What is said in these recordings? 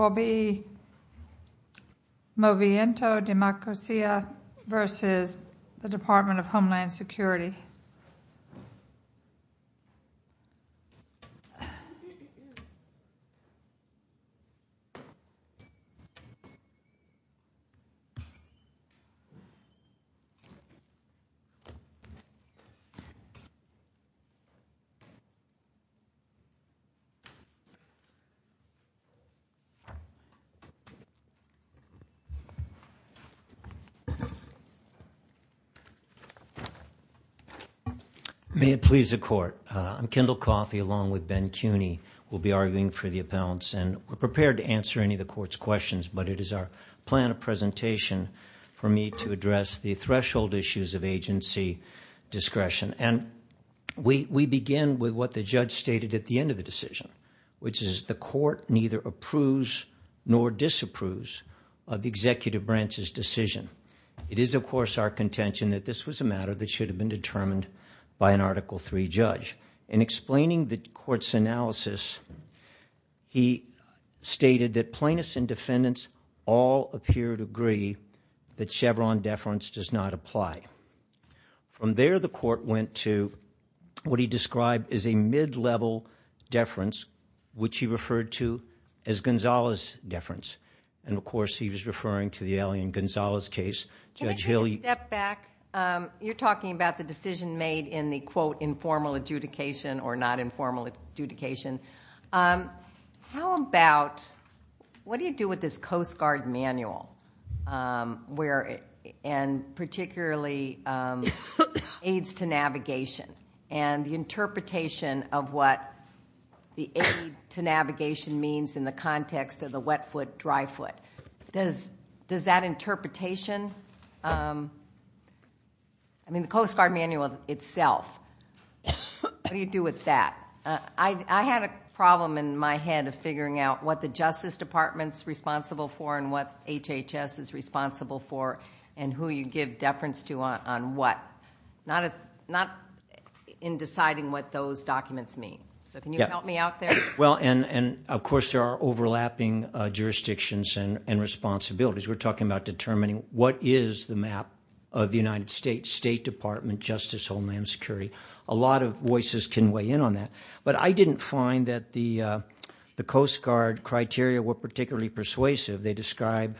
Movimiento Democracia, Inc. v. Secretary Department of Homeland Security May it please the Court. I'm Kendall Coffey, along with Ben Cuney. We'll be arguing for the appellants, and we're prepared to answer any of the Court's questions, but it is our plan of presentation for me to address the threshold issues of agency discretion. And we begin with what the judge stated at the end of the decision, which is the Court neither approves nor disapproves of the Executive Branch's decision. It is, of course, our contention that this was a matter that should have been determined by an Article III judge. In explaining the Court's analysis, he stated that plaintiffs and defendants all appear to agree that Chevron deference does not apply. From there, the Court went to what he described as a mid-level deference, which he referred to as Gonzales deference. And, of course, he was referring to the alien Gonzales case. Judge Hill, you... Can I take a step back? You're talking about the decision made in the, quote, informal adjudication or not informal adjudication. How about... What do you do with this Coast Guard manual, and particularly Aids to Navigation, and the interpretation of what the Aids to Navigation means in the context of the wet foot, dry foot? Does that interpretation... I mean, the Coast Guard manual itself. What do you do with that? I had a problem in my head of figuring out what the Justice Department's responsible for and what HHS is responsible for and who you give deference to on what. Not in deciding what those documents mean. So can you help me out there? Well, and, of course, there are overlapping jurisdictions and responsibilities. We're talking about determining what is the map of the United States State Department Justice Homeland Security. A lot of voices can weigh in on that. But I didn't find that the Coast Guard criteria were particularly persuasive. They describe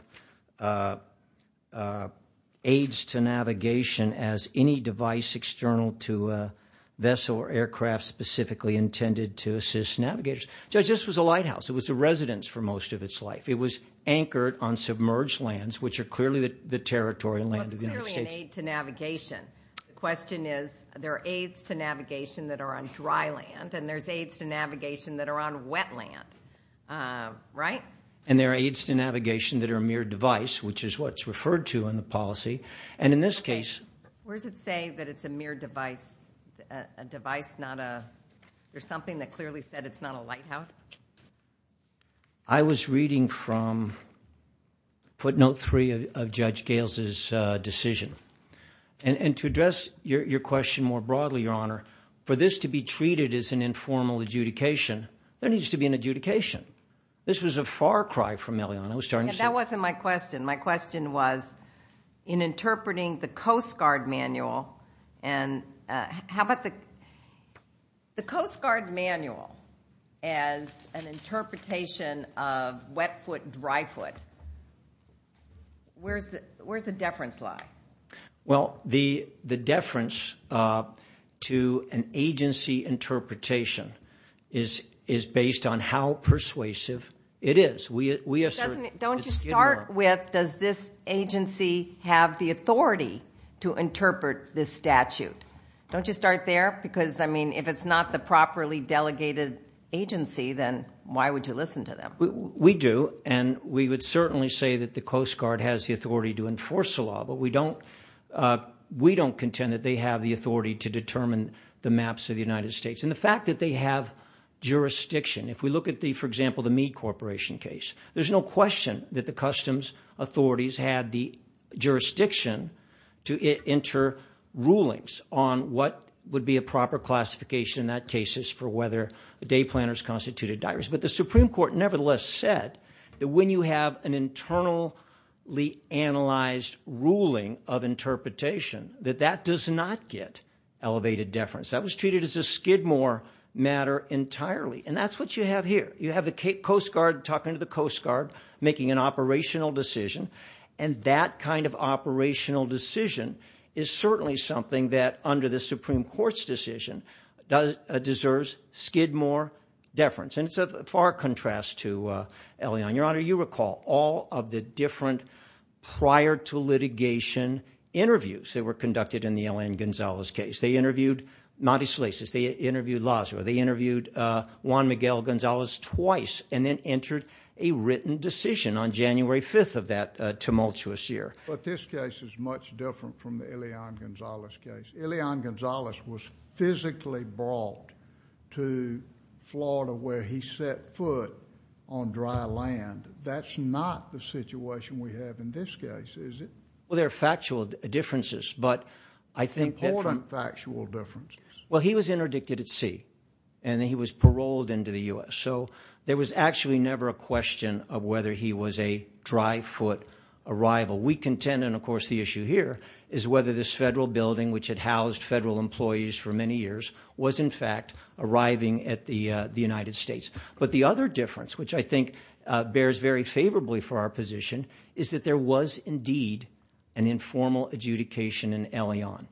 Aids to Navigation as any device external to a vessel or aircraft specifically intended to assist navigators. Judge, this was a lighthouse. It was a residence for most of its life. It was anchored on submerged lands, which are clearly the territorial land of the United States. Well, it's clearly an Aid to Navigation. The question is, there are Aids to Navigation that are on dry land, and there's Aids to Navigation that are on wet land, right? And there are Aids to Navigation that are a mere device, which is what's referred to in the policy. And in this case... Where does it say that it's a mere device? A device, not a... There's something that clearly said it's not a lighthouse? I was reading from footnote three of Judge Gales's decision. And to address your question more broadly, Your Honor, for this to be treated as an informal adjudication, there needs to be an adjudication. This was a far cry from Elion. I was starting to see... That wasn't my question. My question was, in interpreting the Coast Guard manual, and... The Coast Guard manual as an interpretation of wet foot, dry foot, where's the deference lie? Well, the deference to an agency interpretation is based on how persuasive it is. We assert... Don't you start with, does this agency have the authority to interpret this statute? Don't you start there? Because, I mean, if it's not the properly delegated agency, then why would you listen to them? We do. And we would certainly say that the Coast Guard has the authority to enforce the statute. We don't contend that they have the authority to determine the maps of the United States. And the fact that they have jurisdiction, if we look at the, for example, the Meade Corporation case, there's no question that the customs authorities had the jurisdiction to enter rulings on what would be a proper classification in that case for whether the day planners constituted diaries. But the Supreme Court nevertheless said that when you have an internally analyzed ruling of interpretation, that that does not get elevated deference. That was treated as a skidmore matter entirely. And that's what you have here. You have the Coast Guard talking to the Coast Guard, making an operational decision, and that kind of operational decision is certainly something that, under the Supreme Court's decision, deserves skidmore deference. And it's a far contrast to Elion. Your Honor, you recall all of the different prior-to-litigation interviews that were conducted in the Elion Gonzalez case. They interviewed Mattis Sleasis, they interviewed Lazaro, they interviewed Juan Miguel Gonzalez twice, and then entered a written decision on January 5th of that tumultuous year. But this case is much different from the Elion Gonzalez case. Elion Gonzalez was physically brought to Florida where he set foot on dry land. That's not the situation we have in this case, is it? Well, there are factual differences, but I think that... Important factual differences. Well, he was interdicted at sea, and then he was paroled into the U.S. So there was actually never a question of whether he was a dry-foot arrival. We contend, and of course the issue here, is whether this federal building, which had housed federal employees for many years, was in fact arriving at the United States. But the other difference, which I think bears very favorably for our position, is that there was indeed an informal adjudication in Elion.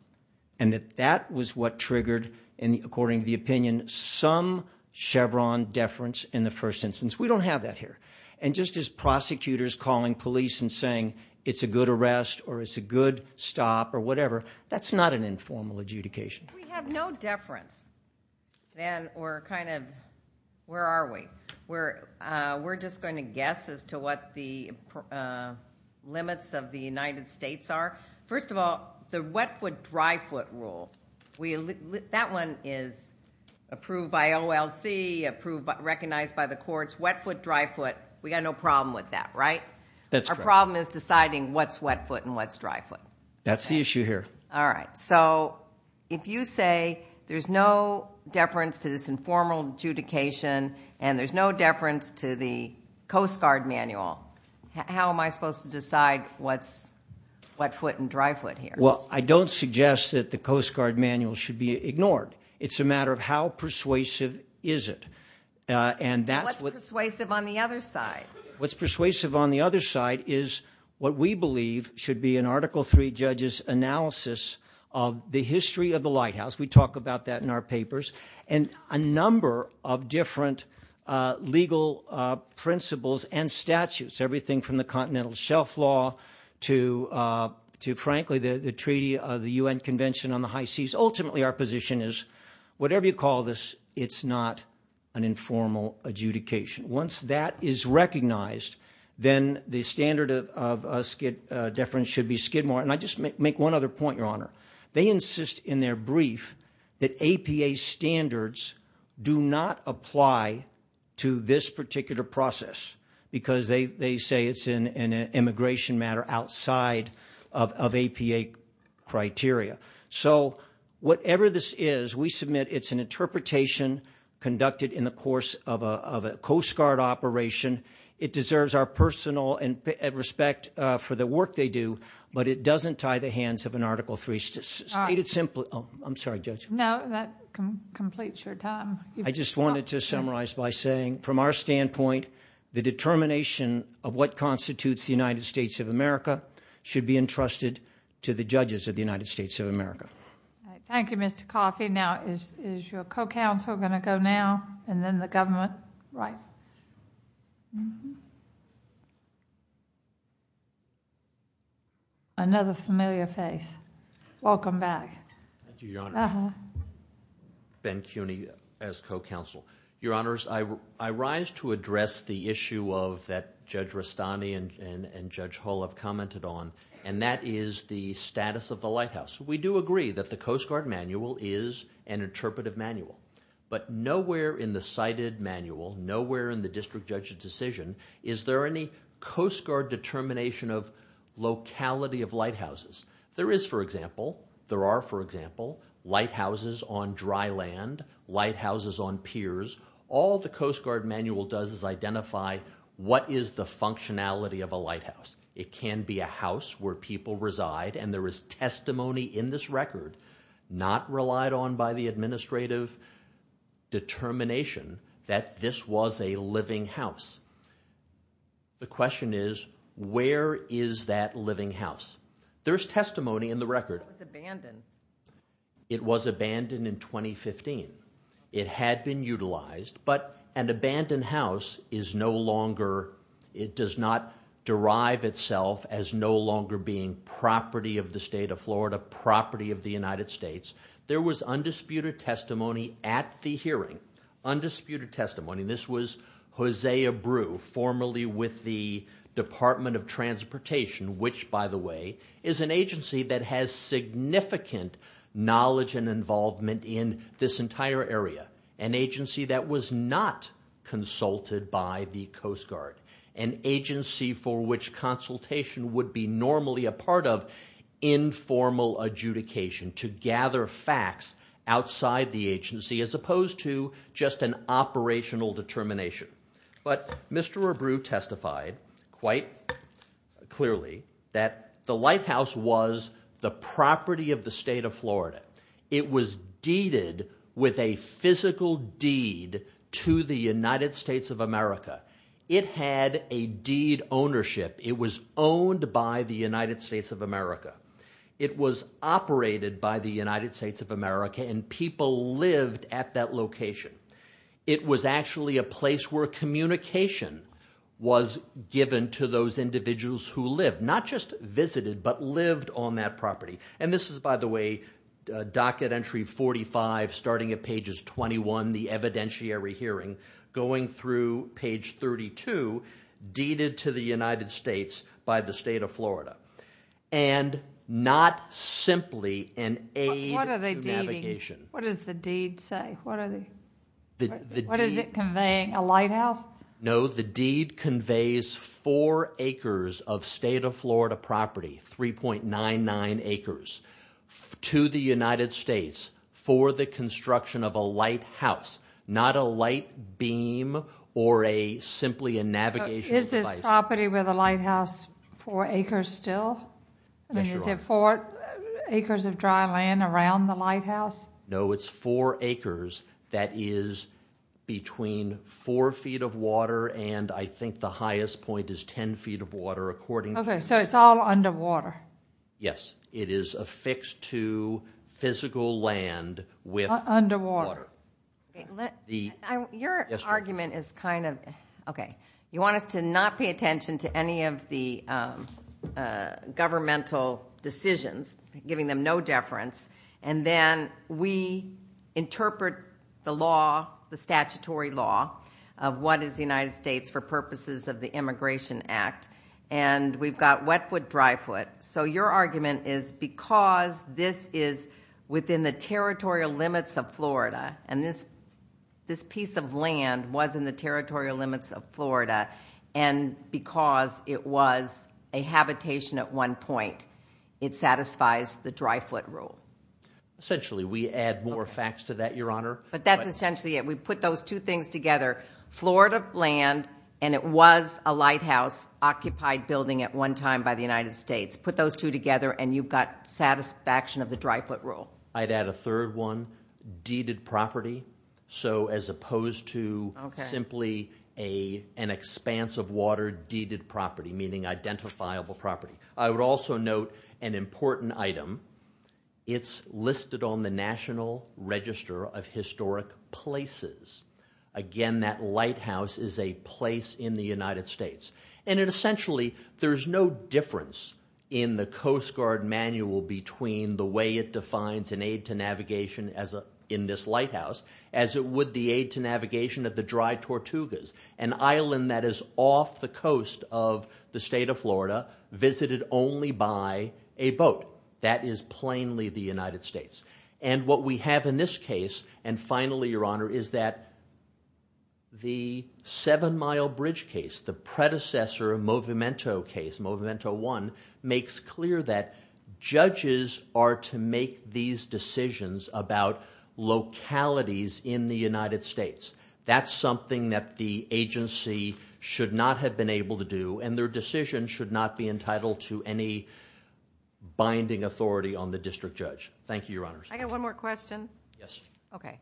And that that was what triggered, according to the opinion, some Chevron deference in the first instance. We don't have that here. And just as prosecutors calling police and saying, it's a good arrest, or it's a good stop, or whatever, that's not an informal adjudication. We have no deference, then, or kind of... Where are we? We're just going to guess as to what the limits of the United States are. First of all, the wet-foot, dry-foot rule, that one is approved by OLC, approved, recognized by the courts. Wet-foot, dry-foot, we got no problem with that, right? That's correct. Our problem is deciding what's wet-foot and what's dry-foot. That's the issue here. All right. So, if you say there's no deference to this informal adjudication, and there's no deference to the Coast Guard manual, how am I supposed to decide what's wet-foot and dry-foot here? Well, I don't suggest that the Coast Guard manual should be ignored. It's a matter of how persuasive is it. And that's what... What's persuasive on the other side? That is what we believe should be an Article 3 judge's analysis of the history of the Lighthouse. We talk about that in our papers, and a number of different legal principles and statutes, everything from the Continental Shelf Law to, frankly, the Treaty of the UN Convention on the High Seas. Ultimately, our position is, whatever you call this, it's not an informal adjudication. Once that is recognized, then the standard of deference should be skid more. And I'll just make one other point, Your Honor. They insist in their brief that APA standards do not apply to this particular process, because they say it's an immigration matter outside of APA criteria. So, whatever this is, we submit it's an interpretation conducted in the course of a Coast Guard operation. It deserves our personal respect for the work they do, but it doesn't tie the hands of an Article 3. All right. I'm sorry, Judge. No, that completes your time. I just wanted to summarize by saying, from our standpoint, the determination of what constitutes the United States of America should be entrusted to the judges of the United States of America. All right. Thank you, Mr. Coffey. Now, is your co-counsel going to go now, and then the government? Right. Mm-hmm. Another familiar face. Welcome back. Thank you, Your Honor. Uh-huh. Ben Cuny, as co-counsel. Your Honors, I rise to address the issue that Judge Rastani and Judge Hull have commented on, and that is the status of the lighthouse. We do agree that the Coast Guard manual is an interpretive manual, but nowhere in the cited manual, nowhere in the district judge's decision is there any Coast Guard determination of locality of lighthouses. There is, for example, there are, for example, lighthouses on dry land, lighthouses on piers. All the Coast Guard manual does is identify what is the functionality of a lighthouse. It can be a house where people reside, and there is testimony in this record not relied on by the administrative determination that this was a living house. The question is, where is that living house? There's testimony in the record. It was abandoned. It was abandoned in 2015. It had been utilized, but an abandoned house is no longer. It does not derive itself as no longer being property of the state of Florida, property of the United States. There was undisputed testimony at the hearing, undisputed testimony. This was Hosea Brew, formerly with the Department of Transportation, which, by the way, is an agency that has significant knowledge and involvement in this entire area, an agency that was not consulted by the Coast Guard, an agency for which consultation would be normally a part of informal adjudication to gather facts outside the agency as opposed to just an operational determination. But Mr. Brew testified quite clearly that the lighthouse was the property of the state of Florida. It was deeded with a physical deed to the United States of America. It had a deed ownership. It was owned by the United States of America. It was operated by the United States of America, and people lived at that location. It was actually a place where communication was given to those individuals who lived, not just visited, but lived on that property. This is, by the way, docket entry 45, starting at pages 21, the evidentiary hearing, going through page 32, deeded to the United States by the state of Florida. Not simply an aid to navigation. What does the deed say? What is it conveying? A lighthouse? No. The deed conveys four acres of state of Florida property, 3.99 acres, to the United States for the construction of a lighthouse, not a light beam or simply a navigation device. Is this property with a lighthouse four acres still? Yes, Your Honor. And is it four acres of dry land around the lighthouse? No, it's four acres that is between four feet of water, and I think the highest point is 10 feet of water, according to- Okay. So it's all underwater? Yes. It is affixed to physical land with- Underwater. Okay. Let the- Your argument is kind of... Okay. You want us to not pay attention to any of the governmental decisions, giving them no deference, and then we interpret the law, the statutory law of what is the United States for purposes of the Immigration Act, and we've got wet foot, dry foot. So your argument is because this is within the territorial limits of Florida, and this piece of land was in the territorial limits of Florida, and because it was a habitation at one point, it satisfies the dry foot rule? Essentially. We add more facts to that, Your Honor. But that's essentially it. We put those two things together, Florida land, and it was a lighthouse occupied building at one time by the United States. Put those two together, and you've got satisfaction of the dry foot rule. I'd add a third one, deeded property. So as opposed to simply an expanse of water deeded property, meaning identifiable property. I would also note an important item. It's listed on the National Register of Historic Places. Again, that lighthouse is a place in the United States. And essentially, there's no difference in the Coast Guard manual between the way it defines an aid to navigation in this lighthouse, as it would the aid to navigation of the dry foot rule. You can only buy a boat. That is plainly the United States. And what we have in this case, and finally, Your Honor, is that the Seven Mile Bridge case, the predecessor of Movimento case, Movimento 1, makes clear that judges are to make these decisions about localities in the United States. That's something that the agency should not have been able to do, and their decision should not be entitled to any binding authority on the district judge. Thank you, Your Honor. I got one more question. Yes. Okay.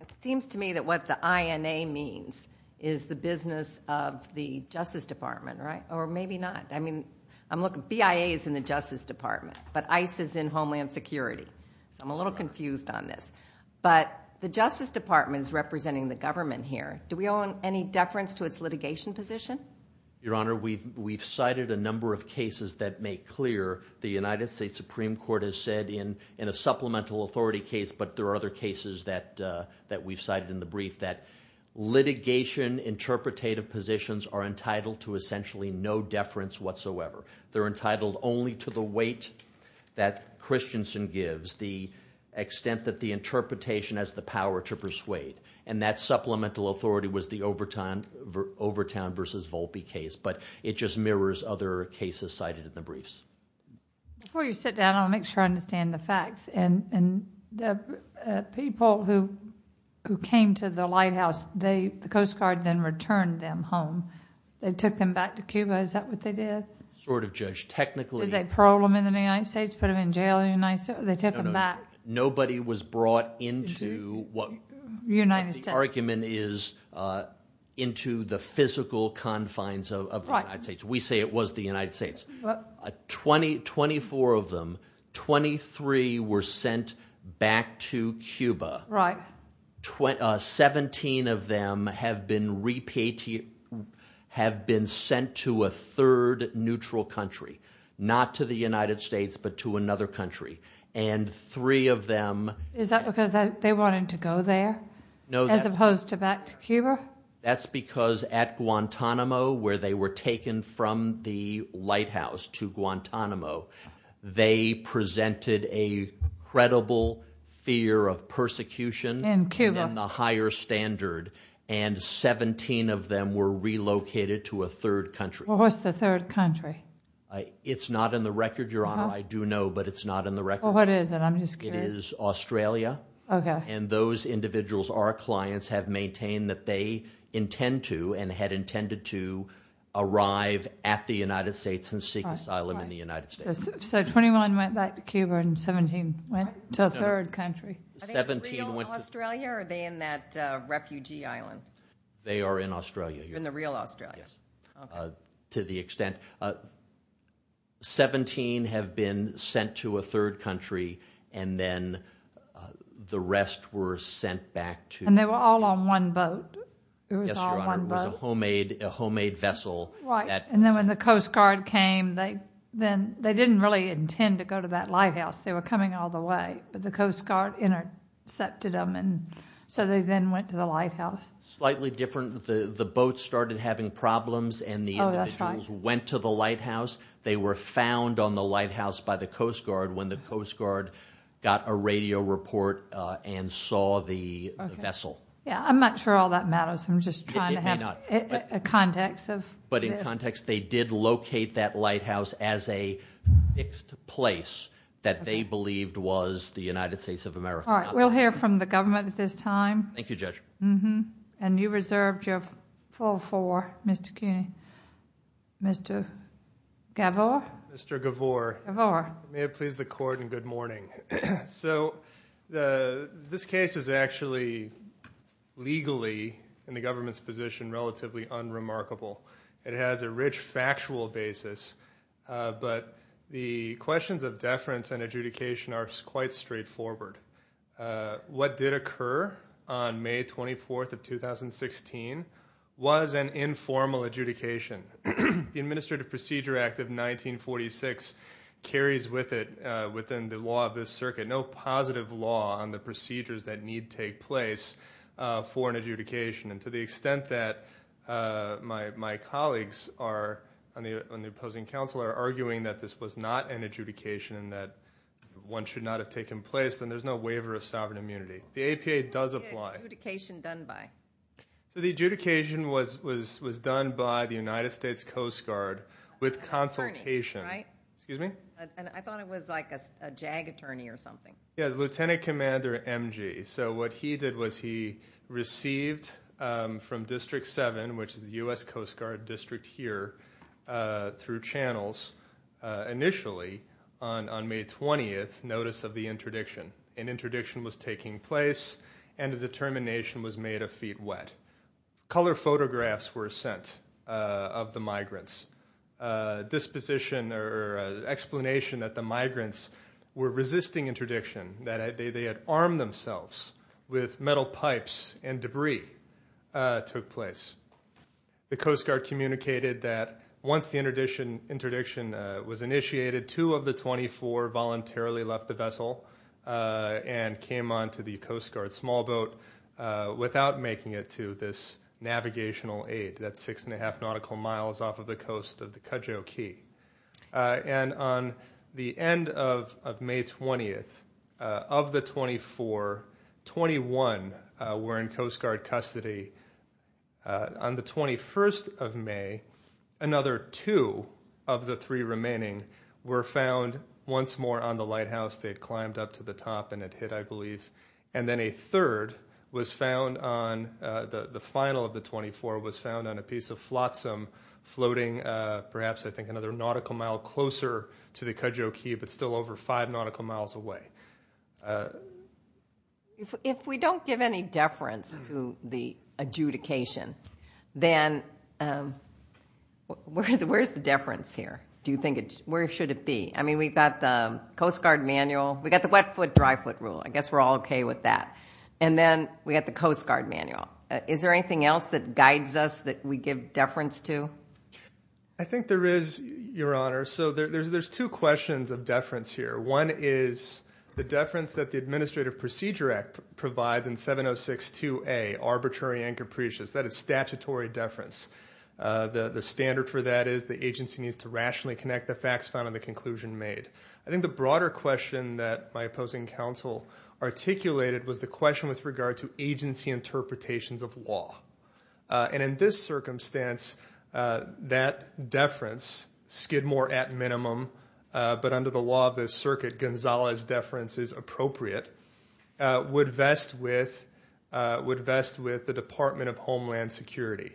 It seems to me that what the INA means is the business of the Justice Department, right? Or maybe not. I mean, BIA is in the Justice Department, but ICE is in Homeland Security. So I'm a little confused on this. But the Justice Department is representing the government here. Do we own any deference to its litigation position? Your Honor, we've cited a number of cases that make clear the United States Supreme Court has said in a supplemental authority case, but there are other cases that we've cited in the brief, that litigation interpretative positions are entitled to essentially no deference whatsoever. They're entitled only to the weight that Christensen gives, the extent that the interpretation has the power to persuade. And that supplemental authority was the Overtown v. Volpe case, but it just mirrors other cases cited in the briefs. Before you sit down, I want to make sure I understand the facts. And the people who came to the lighthouse, the Coast Guard then returned them home. They took them back to Cuba. Is that what they did? Sort of, Judge. Technically— Did they parole them in the United States? Put them in jail in the United States? They took them back? No, no. The argument is that the authority was brought into the physical confines of the United States. We say it was the United States. Twenty-four of them, 23 were sent back to Cuba. Seventeen of them have been sent to a third neutral country. Not to the United States, but to another country. And three of them— Is that because they wanted to go there as opposed to back to Cuba? That's because at Guantanamo, where they were taken from the lighthouse to Guantanamo, they presented a credible fear of persecution in the higher standard. And 17 of them were relocated to a third country. Well, what's the third country? It's not in the record, Your Honor. I do know, but it's not in the record. Well, what is it? I'm just curious. It is Australia. Okay. And those individuals, our clients, have maintained that they intend to and had intended to arrive at the United States and seek asylum in the United States. So, 21 went back to Cuba and 17 went to a third country. I think they're in Australia or are they in that refugee island? They are in Australia. In the real Australia? Yes. Okay. To the extent. So, 17 have been sent to a third country and then the rest were sent back to... And they were all on one boat. Yes, Your Honor. It was a homemade vessel. Right. And then when the Coast Guard came, they didn't really intend to go to that lighthouse. They were coming all the way, but the Coast Guard intercepted them and so they then went to the lighthouse. Slightly different. The boat started having problems and the individuals went to the lighthouse. They were found on the lighthouse by the Coast Guard when the Coast Guard got a radio report and saw the vessel. Yeah. I'm not sure all that matters. I'm just trying to have a context of this. But in context, they did locate that lighthouse as a fixed place that they believed was the United States of America. All right. We'll hear from the government at this time. Thank you, Judge. Mm-hmm. And you reserved your full four, Mr. Cuny. Mr. Gavore? Mr. Gavore. Gavore. May it please the Court and good morning. So this case is actually legally, in the government's position, relatively unremarkable. It has a rich factual basis, but the questions of deference and adjudication are quite straightforward. What did occur on May 24th of 2016 was an informal adjudication. The Administrative Procedure Act of 1946 carries with it within the law of this circuit no positive law on the procedures that need take place for an adjudication. And to the extent that my colleagues on the opposing council are arguing that this was not an adjudication, that one should not have taken place, then there's no waiver of sovereign immunity. The APA does apply. What was the adjudication done by? So the adjudication was done by the United States Coast Guard with consultation. With an attorney, right? Excuse me? And I thought it was like a JAG attorney or something. Yeah, the Lieutenant Commander MG. So what he did was he received from District 7, which is the U.S. Coast Guard district here through channels, initially on May 20th, notice of the interdiction. An interdiction was taking place and a determination was made of feet wet. Color photographs were sent of the migrants. Disposition or explanation that the migrants were resisting interdiction, that they had armed themselves with metal pipes and debris took place. The Coast Guard communicated that once the interdiction was initiated, two of the 24 voluntarily left the vessel and came on to the Coast Guard small boat without making it to this navigational aid, that's 6.5 nautical miles off of the coast of the Cudjoe Cay. And on the end of May 20th, of the 24, 21 were in Coast Guard custody. On the 21st of May, another two of the three remaining were found once more on the lighthouse. They had climbed up to the top and had hit, I believe. And then a third was found on the final of the 24 was found on a piece of flotsam floating perhaps I think another nautical mile closer to the Cudjoe Cay, but still over five nautical miles away. If we don't give any deference to the adjudication, then where's the deference here? Do you think, where should it be? I mean, we've got the Coast Guard manual, we've got the wet foot, dry foot rule. I guess we're all okay with that. And then we've got the Coast Guard manual. Is there anything else that guides us that we give deference to? I think there is, Your Honor. So there's two questions of deference here. One is the deference that the Administrative Procedure Act provides in 706-2A, arbitrary and capricious. That is statutory deference. The standard for that is the agency needs to rationally connect the facts found in the conclusion made. I think the broader question that my opposing counsel articulated was the question with regard to agency interpretations of law. And in this circumstance, that deference, Skidmore at minimum, but under the law of this circuit, Gonzales' deference is appropriate, would vest with the Department of Homeland Security.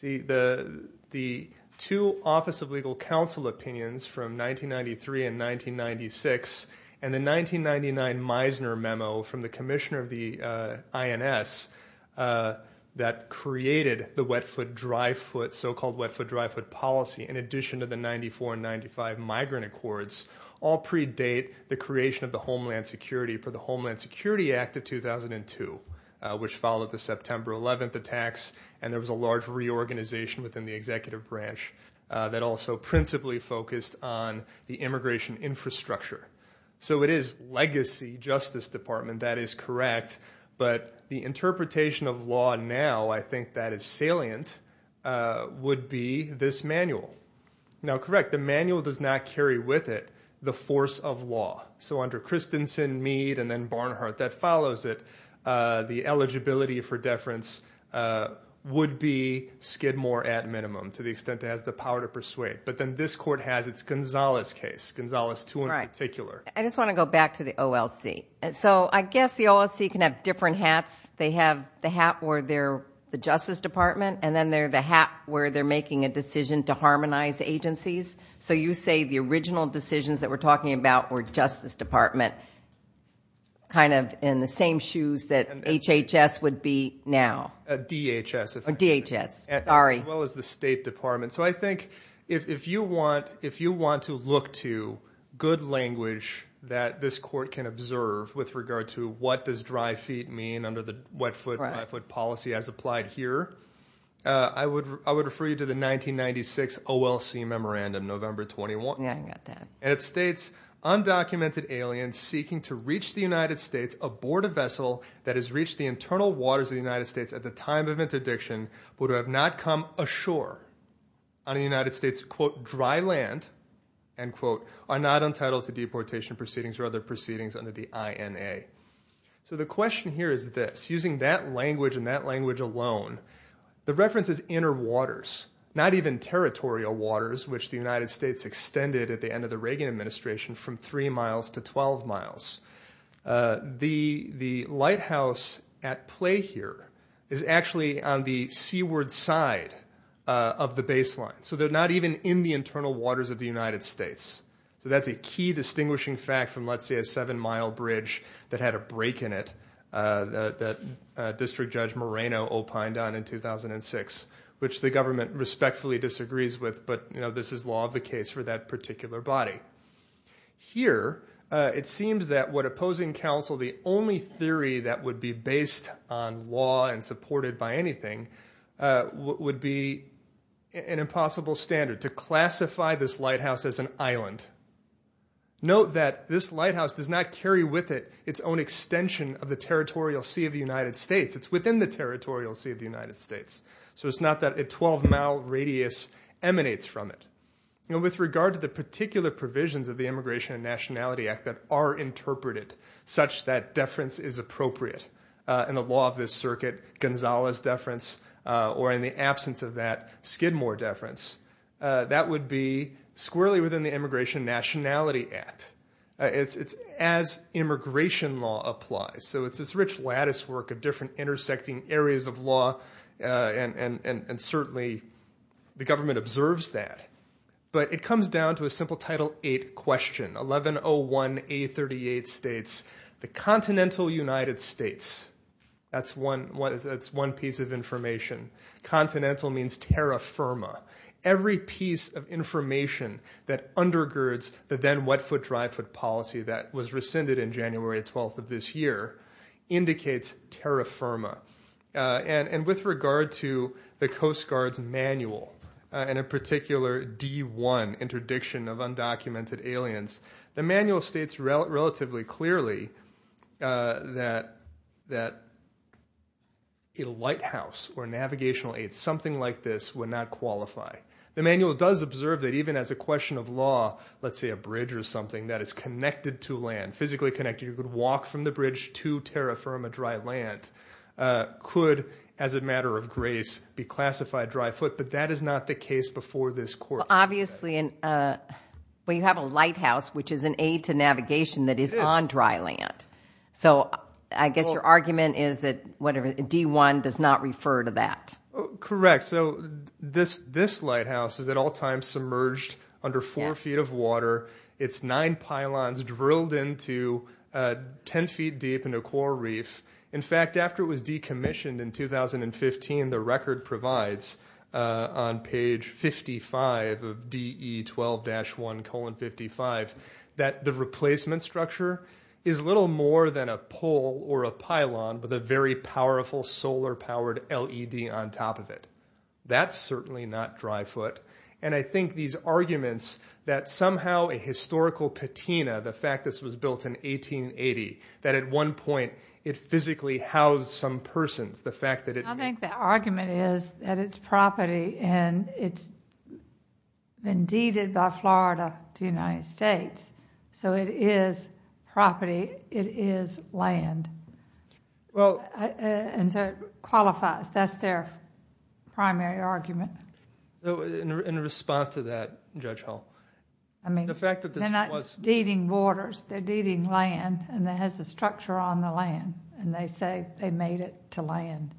The two Office of Legal Counsel opinions from 1993 and 1996, and the 1999 Meisner memo from the commissioner of the INS that created the wet foot, dry foot, so-called wet foot, dry foot policy, in addition to the 94 and 95 migrant accords, all predate the creation of the Homeland Security for the Homeland Security Act of 2002, which followed the September 11th attacks. And there was a large reorganization within the executive branch that also principally focused on the immigration infrastructure. So it is legacy Justice Department. That is correct. But the interpretation of law now, I think that is salient, would be this manual. Now, correct, the manual does not carry with it the force of law. So under Christensen, Mead, and then Barnhart, that follows it. The eligibility for deference would be Skidmore at minimum, to the extent it has the power to persuade. But then this court has its Gonzales case, Gonzales 2 in particular. I just want to go back to the OLC. So I guess the OLC can have different hats. They have the hat where they're the Justice Department, and then they're the hat where they're making a decision to harmonize agencies. So you say the original decisions that we're talking about were Justice Department, kind of in the same shoes that HHS would be now. DHS. DHS, sorry. As well as the State Department. So I think if you want to look to good language that this court can observe with regard to what does dry feet mean under the wet foot, dry foot policy as applied here, I would refer you to the 1996 OLC memorandum, November 21. Yeah, I got that. And it states, undocumented aliens seeking to reach the United States aboard a vessel that has reached the internal waters of the United States at the time of interdiction would have not come ashore on the United States, quote, dry land, end quote, are not entitled to deportation proceedings or other proceedings under the INA. So the question here is this. Using that language and that language alone, the reference is inner waters, not even territorial waters which the United States extended at the end of the Reagan administration from three miles to 12 miles. The lighthouse at play here is actually on the seaward side of the baseline. So they're not even in the internal waters of the United States. So that's a key distinguishing fact from let's say a seven mile bridge that had a break in it that District Judge Moreno opined on in 2006 which the government respectfully disagrees with but this is law of the case for that particular body. Here, it seems that what opposing counsel, the only theory that would be based on law and supported by anything would be an impossible standard to classify this lighthouse as an island. Note that this lighthouse does not carry with it its own extension of the territorial sea of the United States. It's within the territorial sea of the United States. So it's not that a 12 mile radius emanates from it. With regard to the particular provisions of the Immigration and Nationality Act that are interpreted such that deference is appropriate in the law of this circuit, Gonzales deference or in the absence of that, Skidmore deference, that would be squarely within the Immigration and Nationality Act. It's as immigration law applies. So it's this rich lattice work of different intersecting areas of law and certainly the But it comes down to a simple Title VIII question. 1101A38 states, the continental United States, that's one piece of information. Continental means terra firma. Every piece of information that undergirds the then wet foot, dry foot policy that was rescinded in January 12th of this year indicates terra firma. And with regard to the Coast Guard's manual in a particular D1 interdiction of undocumented aliens, the manual states relatively clearly that a lighthouse or navigational aid, something like this, would not qualify. The manual does observe that even as a question of law, let's say a bridge or something that is connected to land, physically connected, you could walk from the bridge to terra firma on dry land, could, as a matter of grace, be classified dry foot. But that is not the case before this court. Obviously, when you have a lighthouse, which is an aid to navigation that is on dry land. So I guess your argument is that D1 does not refer to that. Correct. So this lighthouse is at all times submerged under four feet of water. It's nine pylons drilled into 10 feet deep in a core reef. In fact, after it was decommissioned in 2015, the record provides on page 55 of DE 12-1 colon 55, that the replacement structure is little more than a pole or a pylon with a very powerful solar powered LED on top of it. That's certainly not dry foot. And I think these arguments that somehow a historical patina, the fact this was built in 1880, that at one point it physically housed some persons, the fact that it... I think the argument is that it's property and it's been deeded by Florida to the United States. So it is property. It is land. And so it qualifies. That's their primary argument. So in response to that, Judge Hull, the fact that this was... They're not deeding waters. They're deeding land and it has a structure on the land. And they say they made it to land.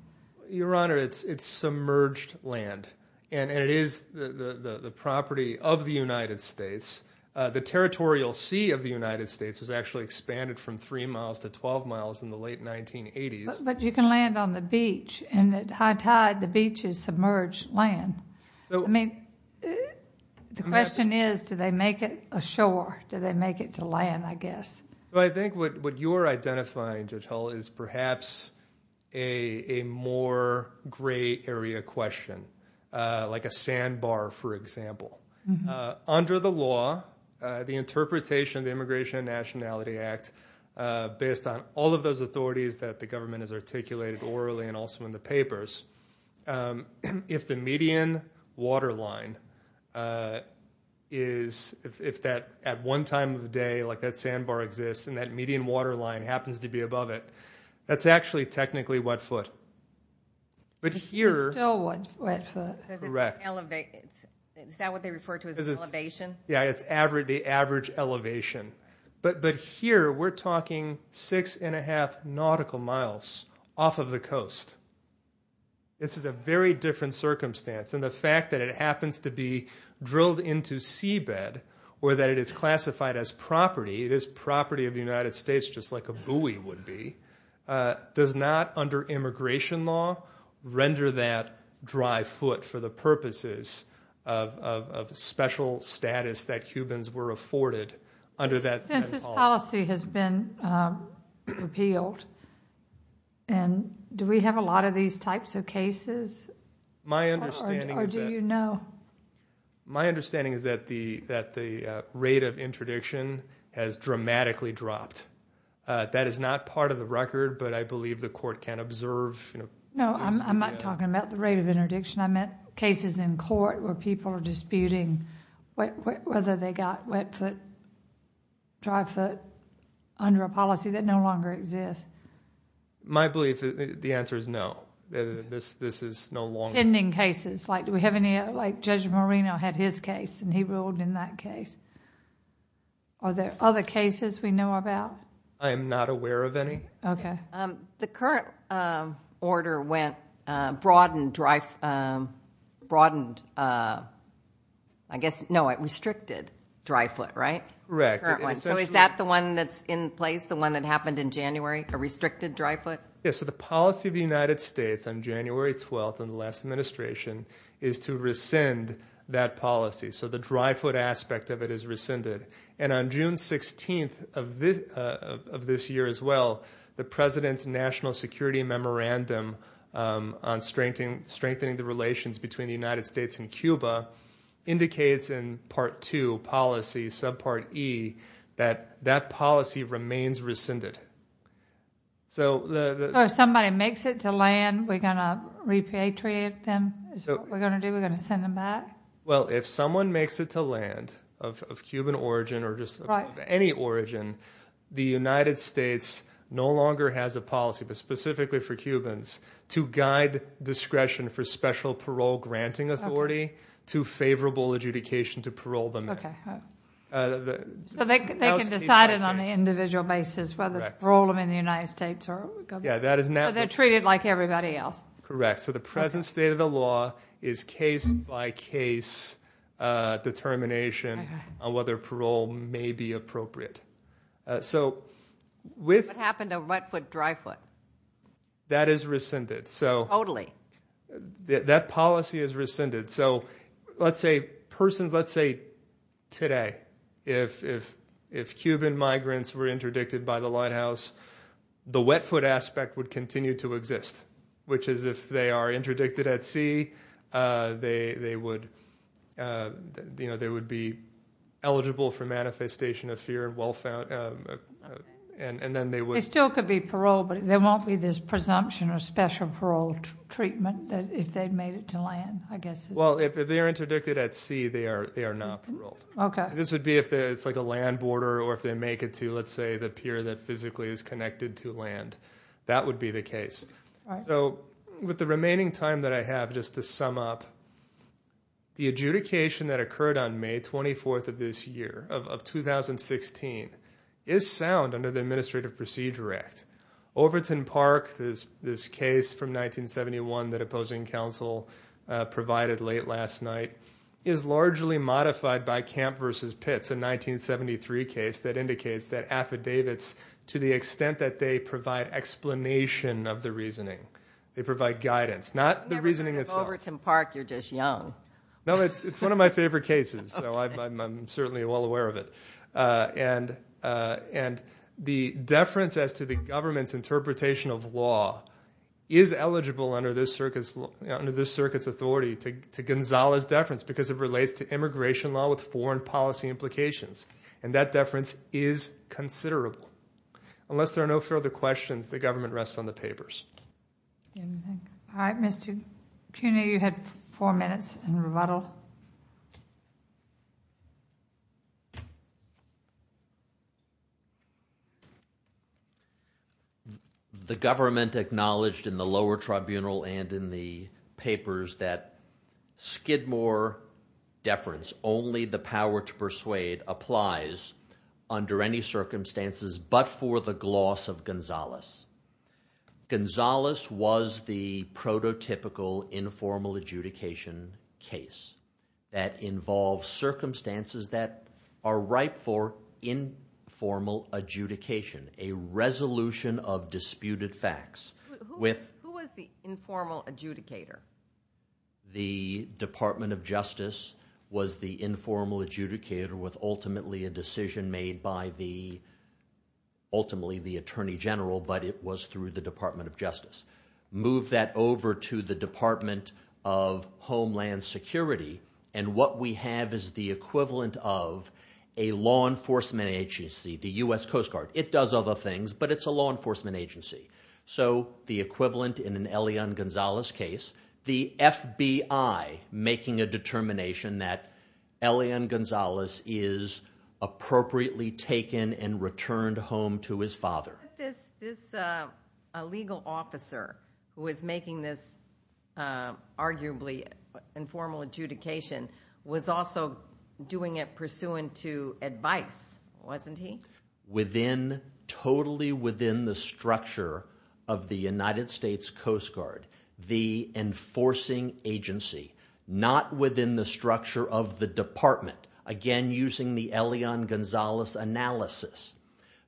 Your Honor, it's submerged land. And it is the property of the United States. The territorial sea of the United States was actually expanded from three miles to 12 miles in the late 1980s. But you can land on the beach. And at high tide, the beaches submerge land. I mean, the question is, do they make it ashore? Do they make it to land, I guess? Well, I think what you're identifying, Judge Hull, is perhaps a more gray area question. Like a sandbar, for example. Under the law, the interpretation of the Immigration and Nationality Act, based on all of those that are articulated orally and also in the papers, if the median waterline is... If at one time of day that sandbar exists and that median waterline happens to be above it, that's actually technically wetfoot. But here... It's still wetfoot. Correct. Is that what they refer to as elevation? Yeah, it's the average elevation. But here, we're talking six and a half nautical miles off of the coast. This is a very different circumstance. And the fact that it happens to be drilled into seabed or that it is classified as property, it is property of the United States just like a buoy would be, does not, under immigration law, render that dry foot for the purposes of special status that humans were afforded under that law. Since this policy has been repealed, do we have a lot of these types of cases? My understanding is that... Or do you know? My understanding is that the rate of interdiction has dramatically dropped. That is not part of the record, but I believe the court can observe... No, I'm not talking about the rate of interdiction. I meant cases in court where people are disputing whether they got wet foot, dry foot under a policy that no longer exists. My belief, the answer is no. This is no longer... Pending cases, like do we have any... Like Judge Marino had his case, and he ruled in that case. Are there other cases we know about? I am not aware of any. Okay. The current order went, broadened, I guess, no, it restricted dry foot, right? Correct. So is that the one that's in place, the one that happened in January, a restricted dry foot? Yes. So the policy of the United States on January 12th in the last administration is to rescind that policy. So the dry foot aspect of it is rescinded. And on June 16th of this year as well, the President's National Security Memorandum on strengthening the relations between the United States and Cuba indicates in Part 2, Policy, Subpart E, that that policy remains rescinded. So if somebody makes it to land, we're going to repatriate them? Is that what we're going to do? We're going to send them back? Well, if someone makes it to land of Cuban origin or just of any origin, the United States no longer has a policy, but specifically for Cubans, to guide discretion for special parole granting authority to favorable adjudication to parole them in. Okay. So they can decide it on an individual basis whether to parole them in the United States or go back? Yeah, that is natural. So they're treated like everybody else? Correct. So the present state of the law is case-by-case determination on whether parole may be appropriate. What happened to wet foot, dry foot? That is rescinded. That policy is rescinded. So let's say persons, let's say today, if Cuban migrants were interdicted by the White House, the wet foot aspect would continue to exist, which is if they are interdicted at sea, they would be eligible for manifestation of fear and well-found, and then they would- They still could be paroled, but there won't be this presumption of special parole treatment if they made it to land, I guess. Well, if they're interdicted at sea, they are not paroled. Okay. This would be if it's like a land border or if they make it to, let's say, the pier that physically is connected to land. That would be the case. So with the remaining time that I have, just to sum up, the adjudication that occurred on May 24th of this year, of 2016, is sound under the Administrative Procedure Act. Overton Park, this case from 1971 that opposing counsel provided late last night, is largely modified by Camp v. Pitts, a 1973 case that indicates that affidavits, to the extent that they provide explanation of the reasoning, they provide guidance. Not the reasoning itself. Never heard of Overton Park. You're just young. No, it's one of my favorite cases, so I'm certainly well aware of it. And the deference as to the government's interpretation of law is eligible under this circuit's authority to Gonzales' deference because it relates to immigration law with foreign policy implications. And that deference is considerable. Unless there are no further questions, the government rests on the papers. All right, Mr. Cuny, you have four minutes in rebuttal. The government acknowledged in the lower tribunal and in the papers that Skidmore deference, only the power to persuade, applies under any circumstances but for the gloss of Gonzales. Gonzales was the prototypical informal adjudication case that involves circumstances that are ripe for informal adjudication, a resolution of disputed facts. Who was the informal adjudicator? The Department of Justice was the informal adjudicator with ultimately a decision made by the, ultimately, the Attorney General, but it was through the Department of Justice. Move that over to the Department of Homeland Security, and what we have is the equivalent of a law enforcement agency, the U.S. Coast Guard. It does other things, but it's a law enforcement agency. So the equivalent in an Elian Gonzales case, the FBI making a determination that Elian Gonzales is appropriately taken and returned home to his father. This legal officer who is making this arguably informal adjudication was also doing it pursuant to advice, wasn't he? Within, totally within the structure of the United States Coast Guard, the enforcing agency, not within the structure of the department, again using the Elian Gonzales analysis.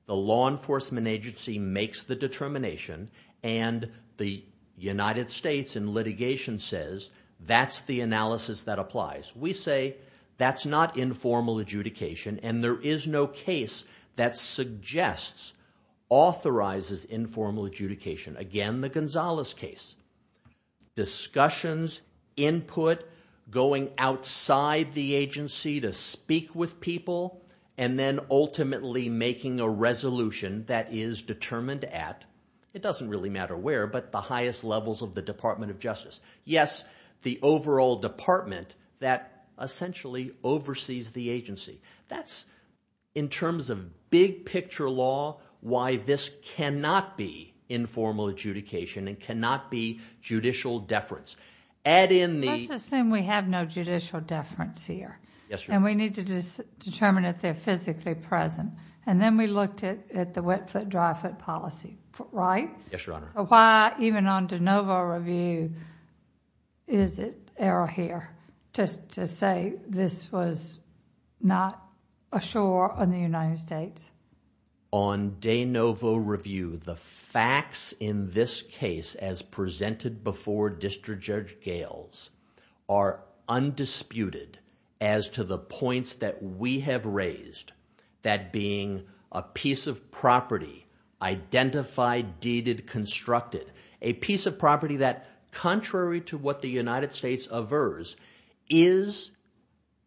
The law enforcement agency makes the determination, and the United States in litigation says that's the analysis that applies. We say that's not informal adjudication, and there is no case that suggests, authorizes informal adjudication. Again, the Gonzales case. Discussions, input, going outside the agency to speak with people, and then ultimately making a resolution that is determined at, it doesn't really matter where, but the highest levels of the Department of Justice. Yes, the overall department that essentially oversees the agency. That's, in terms of big picture law, why this cannot be informal adjudication and cannot be judicial deference. Let's assume we have no judicial deference here, and we need to determine if they're physically present. And then we looked at the wet foot, dry foot policy, right? Yes, Your Honor. Why, even on de novo review, is it error here, just to say this was not a sure on the United States? On de novo review, the facts in this case, as presented before District Judge Gales, are undisputed as to the points that we have raised, that being a piece of property, identified, deeded, constructed. A piece of property that, contrary to what the United States averse, is,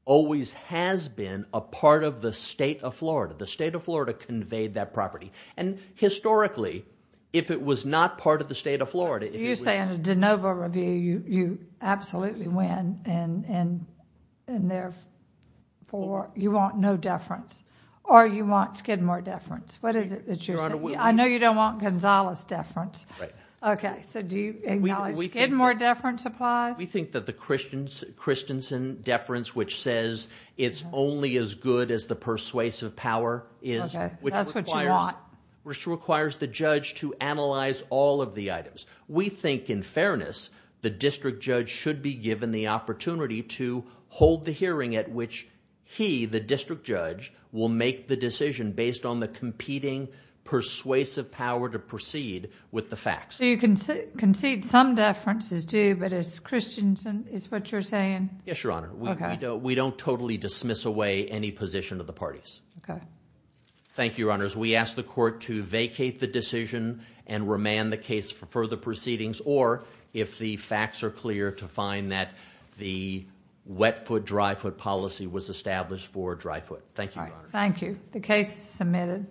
always has been, a part of the state of Florida. The state of Florida conveyed that property. And historically, if it was not part of the state of Florida. So you're saying a de novo review, you absolutely win, and therefore you want no deference? Or you want Skidmore deference? What is it that you're saying? I know you don't want Gonzales deference. Right. Okay, so do you acknowledge Skidmore deference applies? We think that the Christensen deference, which says it's only as good as the persuasive power, which requires the judge to analyze all of the items. We think, in fairness, the District Judge should be given the opportunity to hold the hearing at which he, the District Judge, will make the decision based on the competing persuasive power to proceed with the facts. So you concede some deference is due, but it's Christensen, is what you're saying? Yes, Your Honor. We don't totally dismiss away any position of the parties. Thank you, Your Honors. We ask the court to vacate the decision and remand the case for further proceedings, or if the facts are clear, to find that the wet foot, dry foot policy was established for dry foot. Thank you, Your Honors. Thank you. The case is submitted.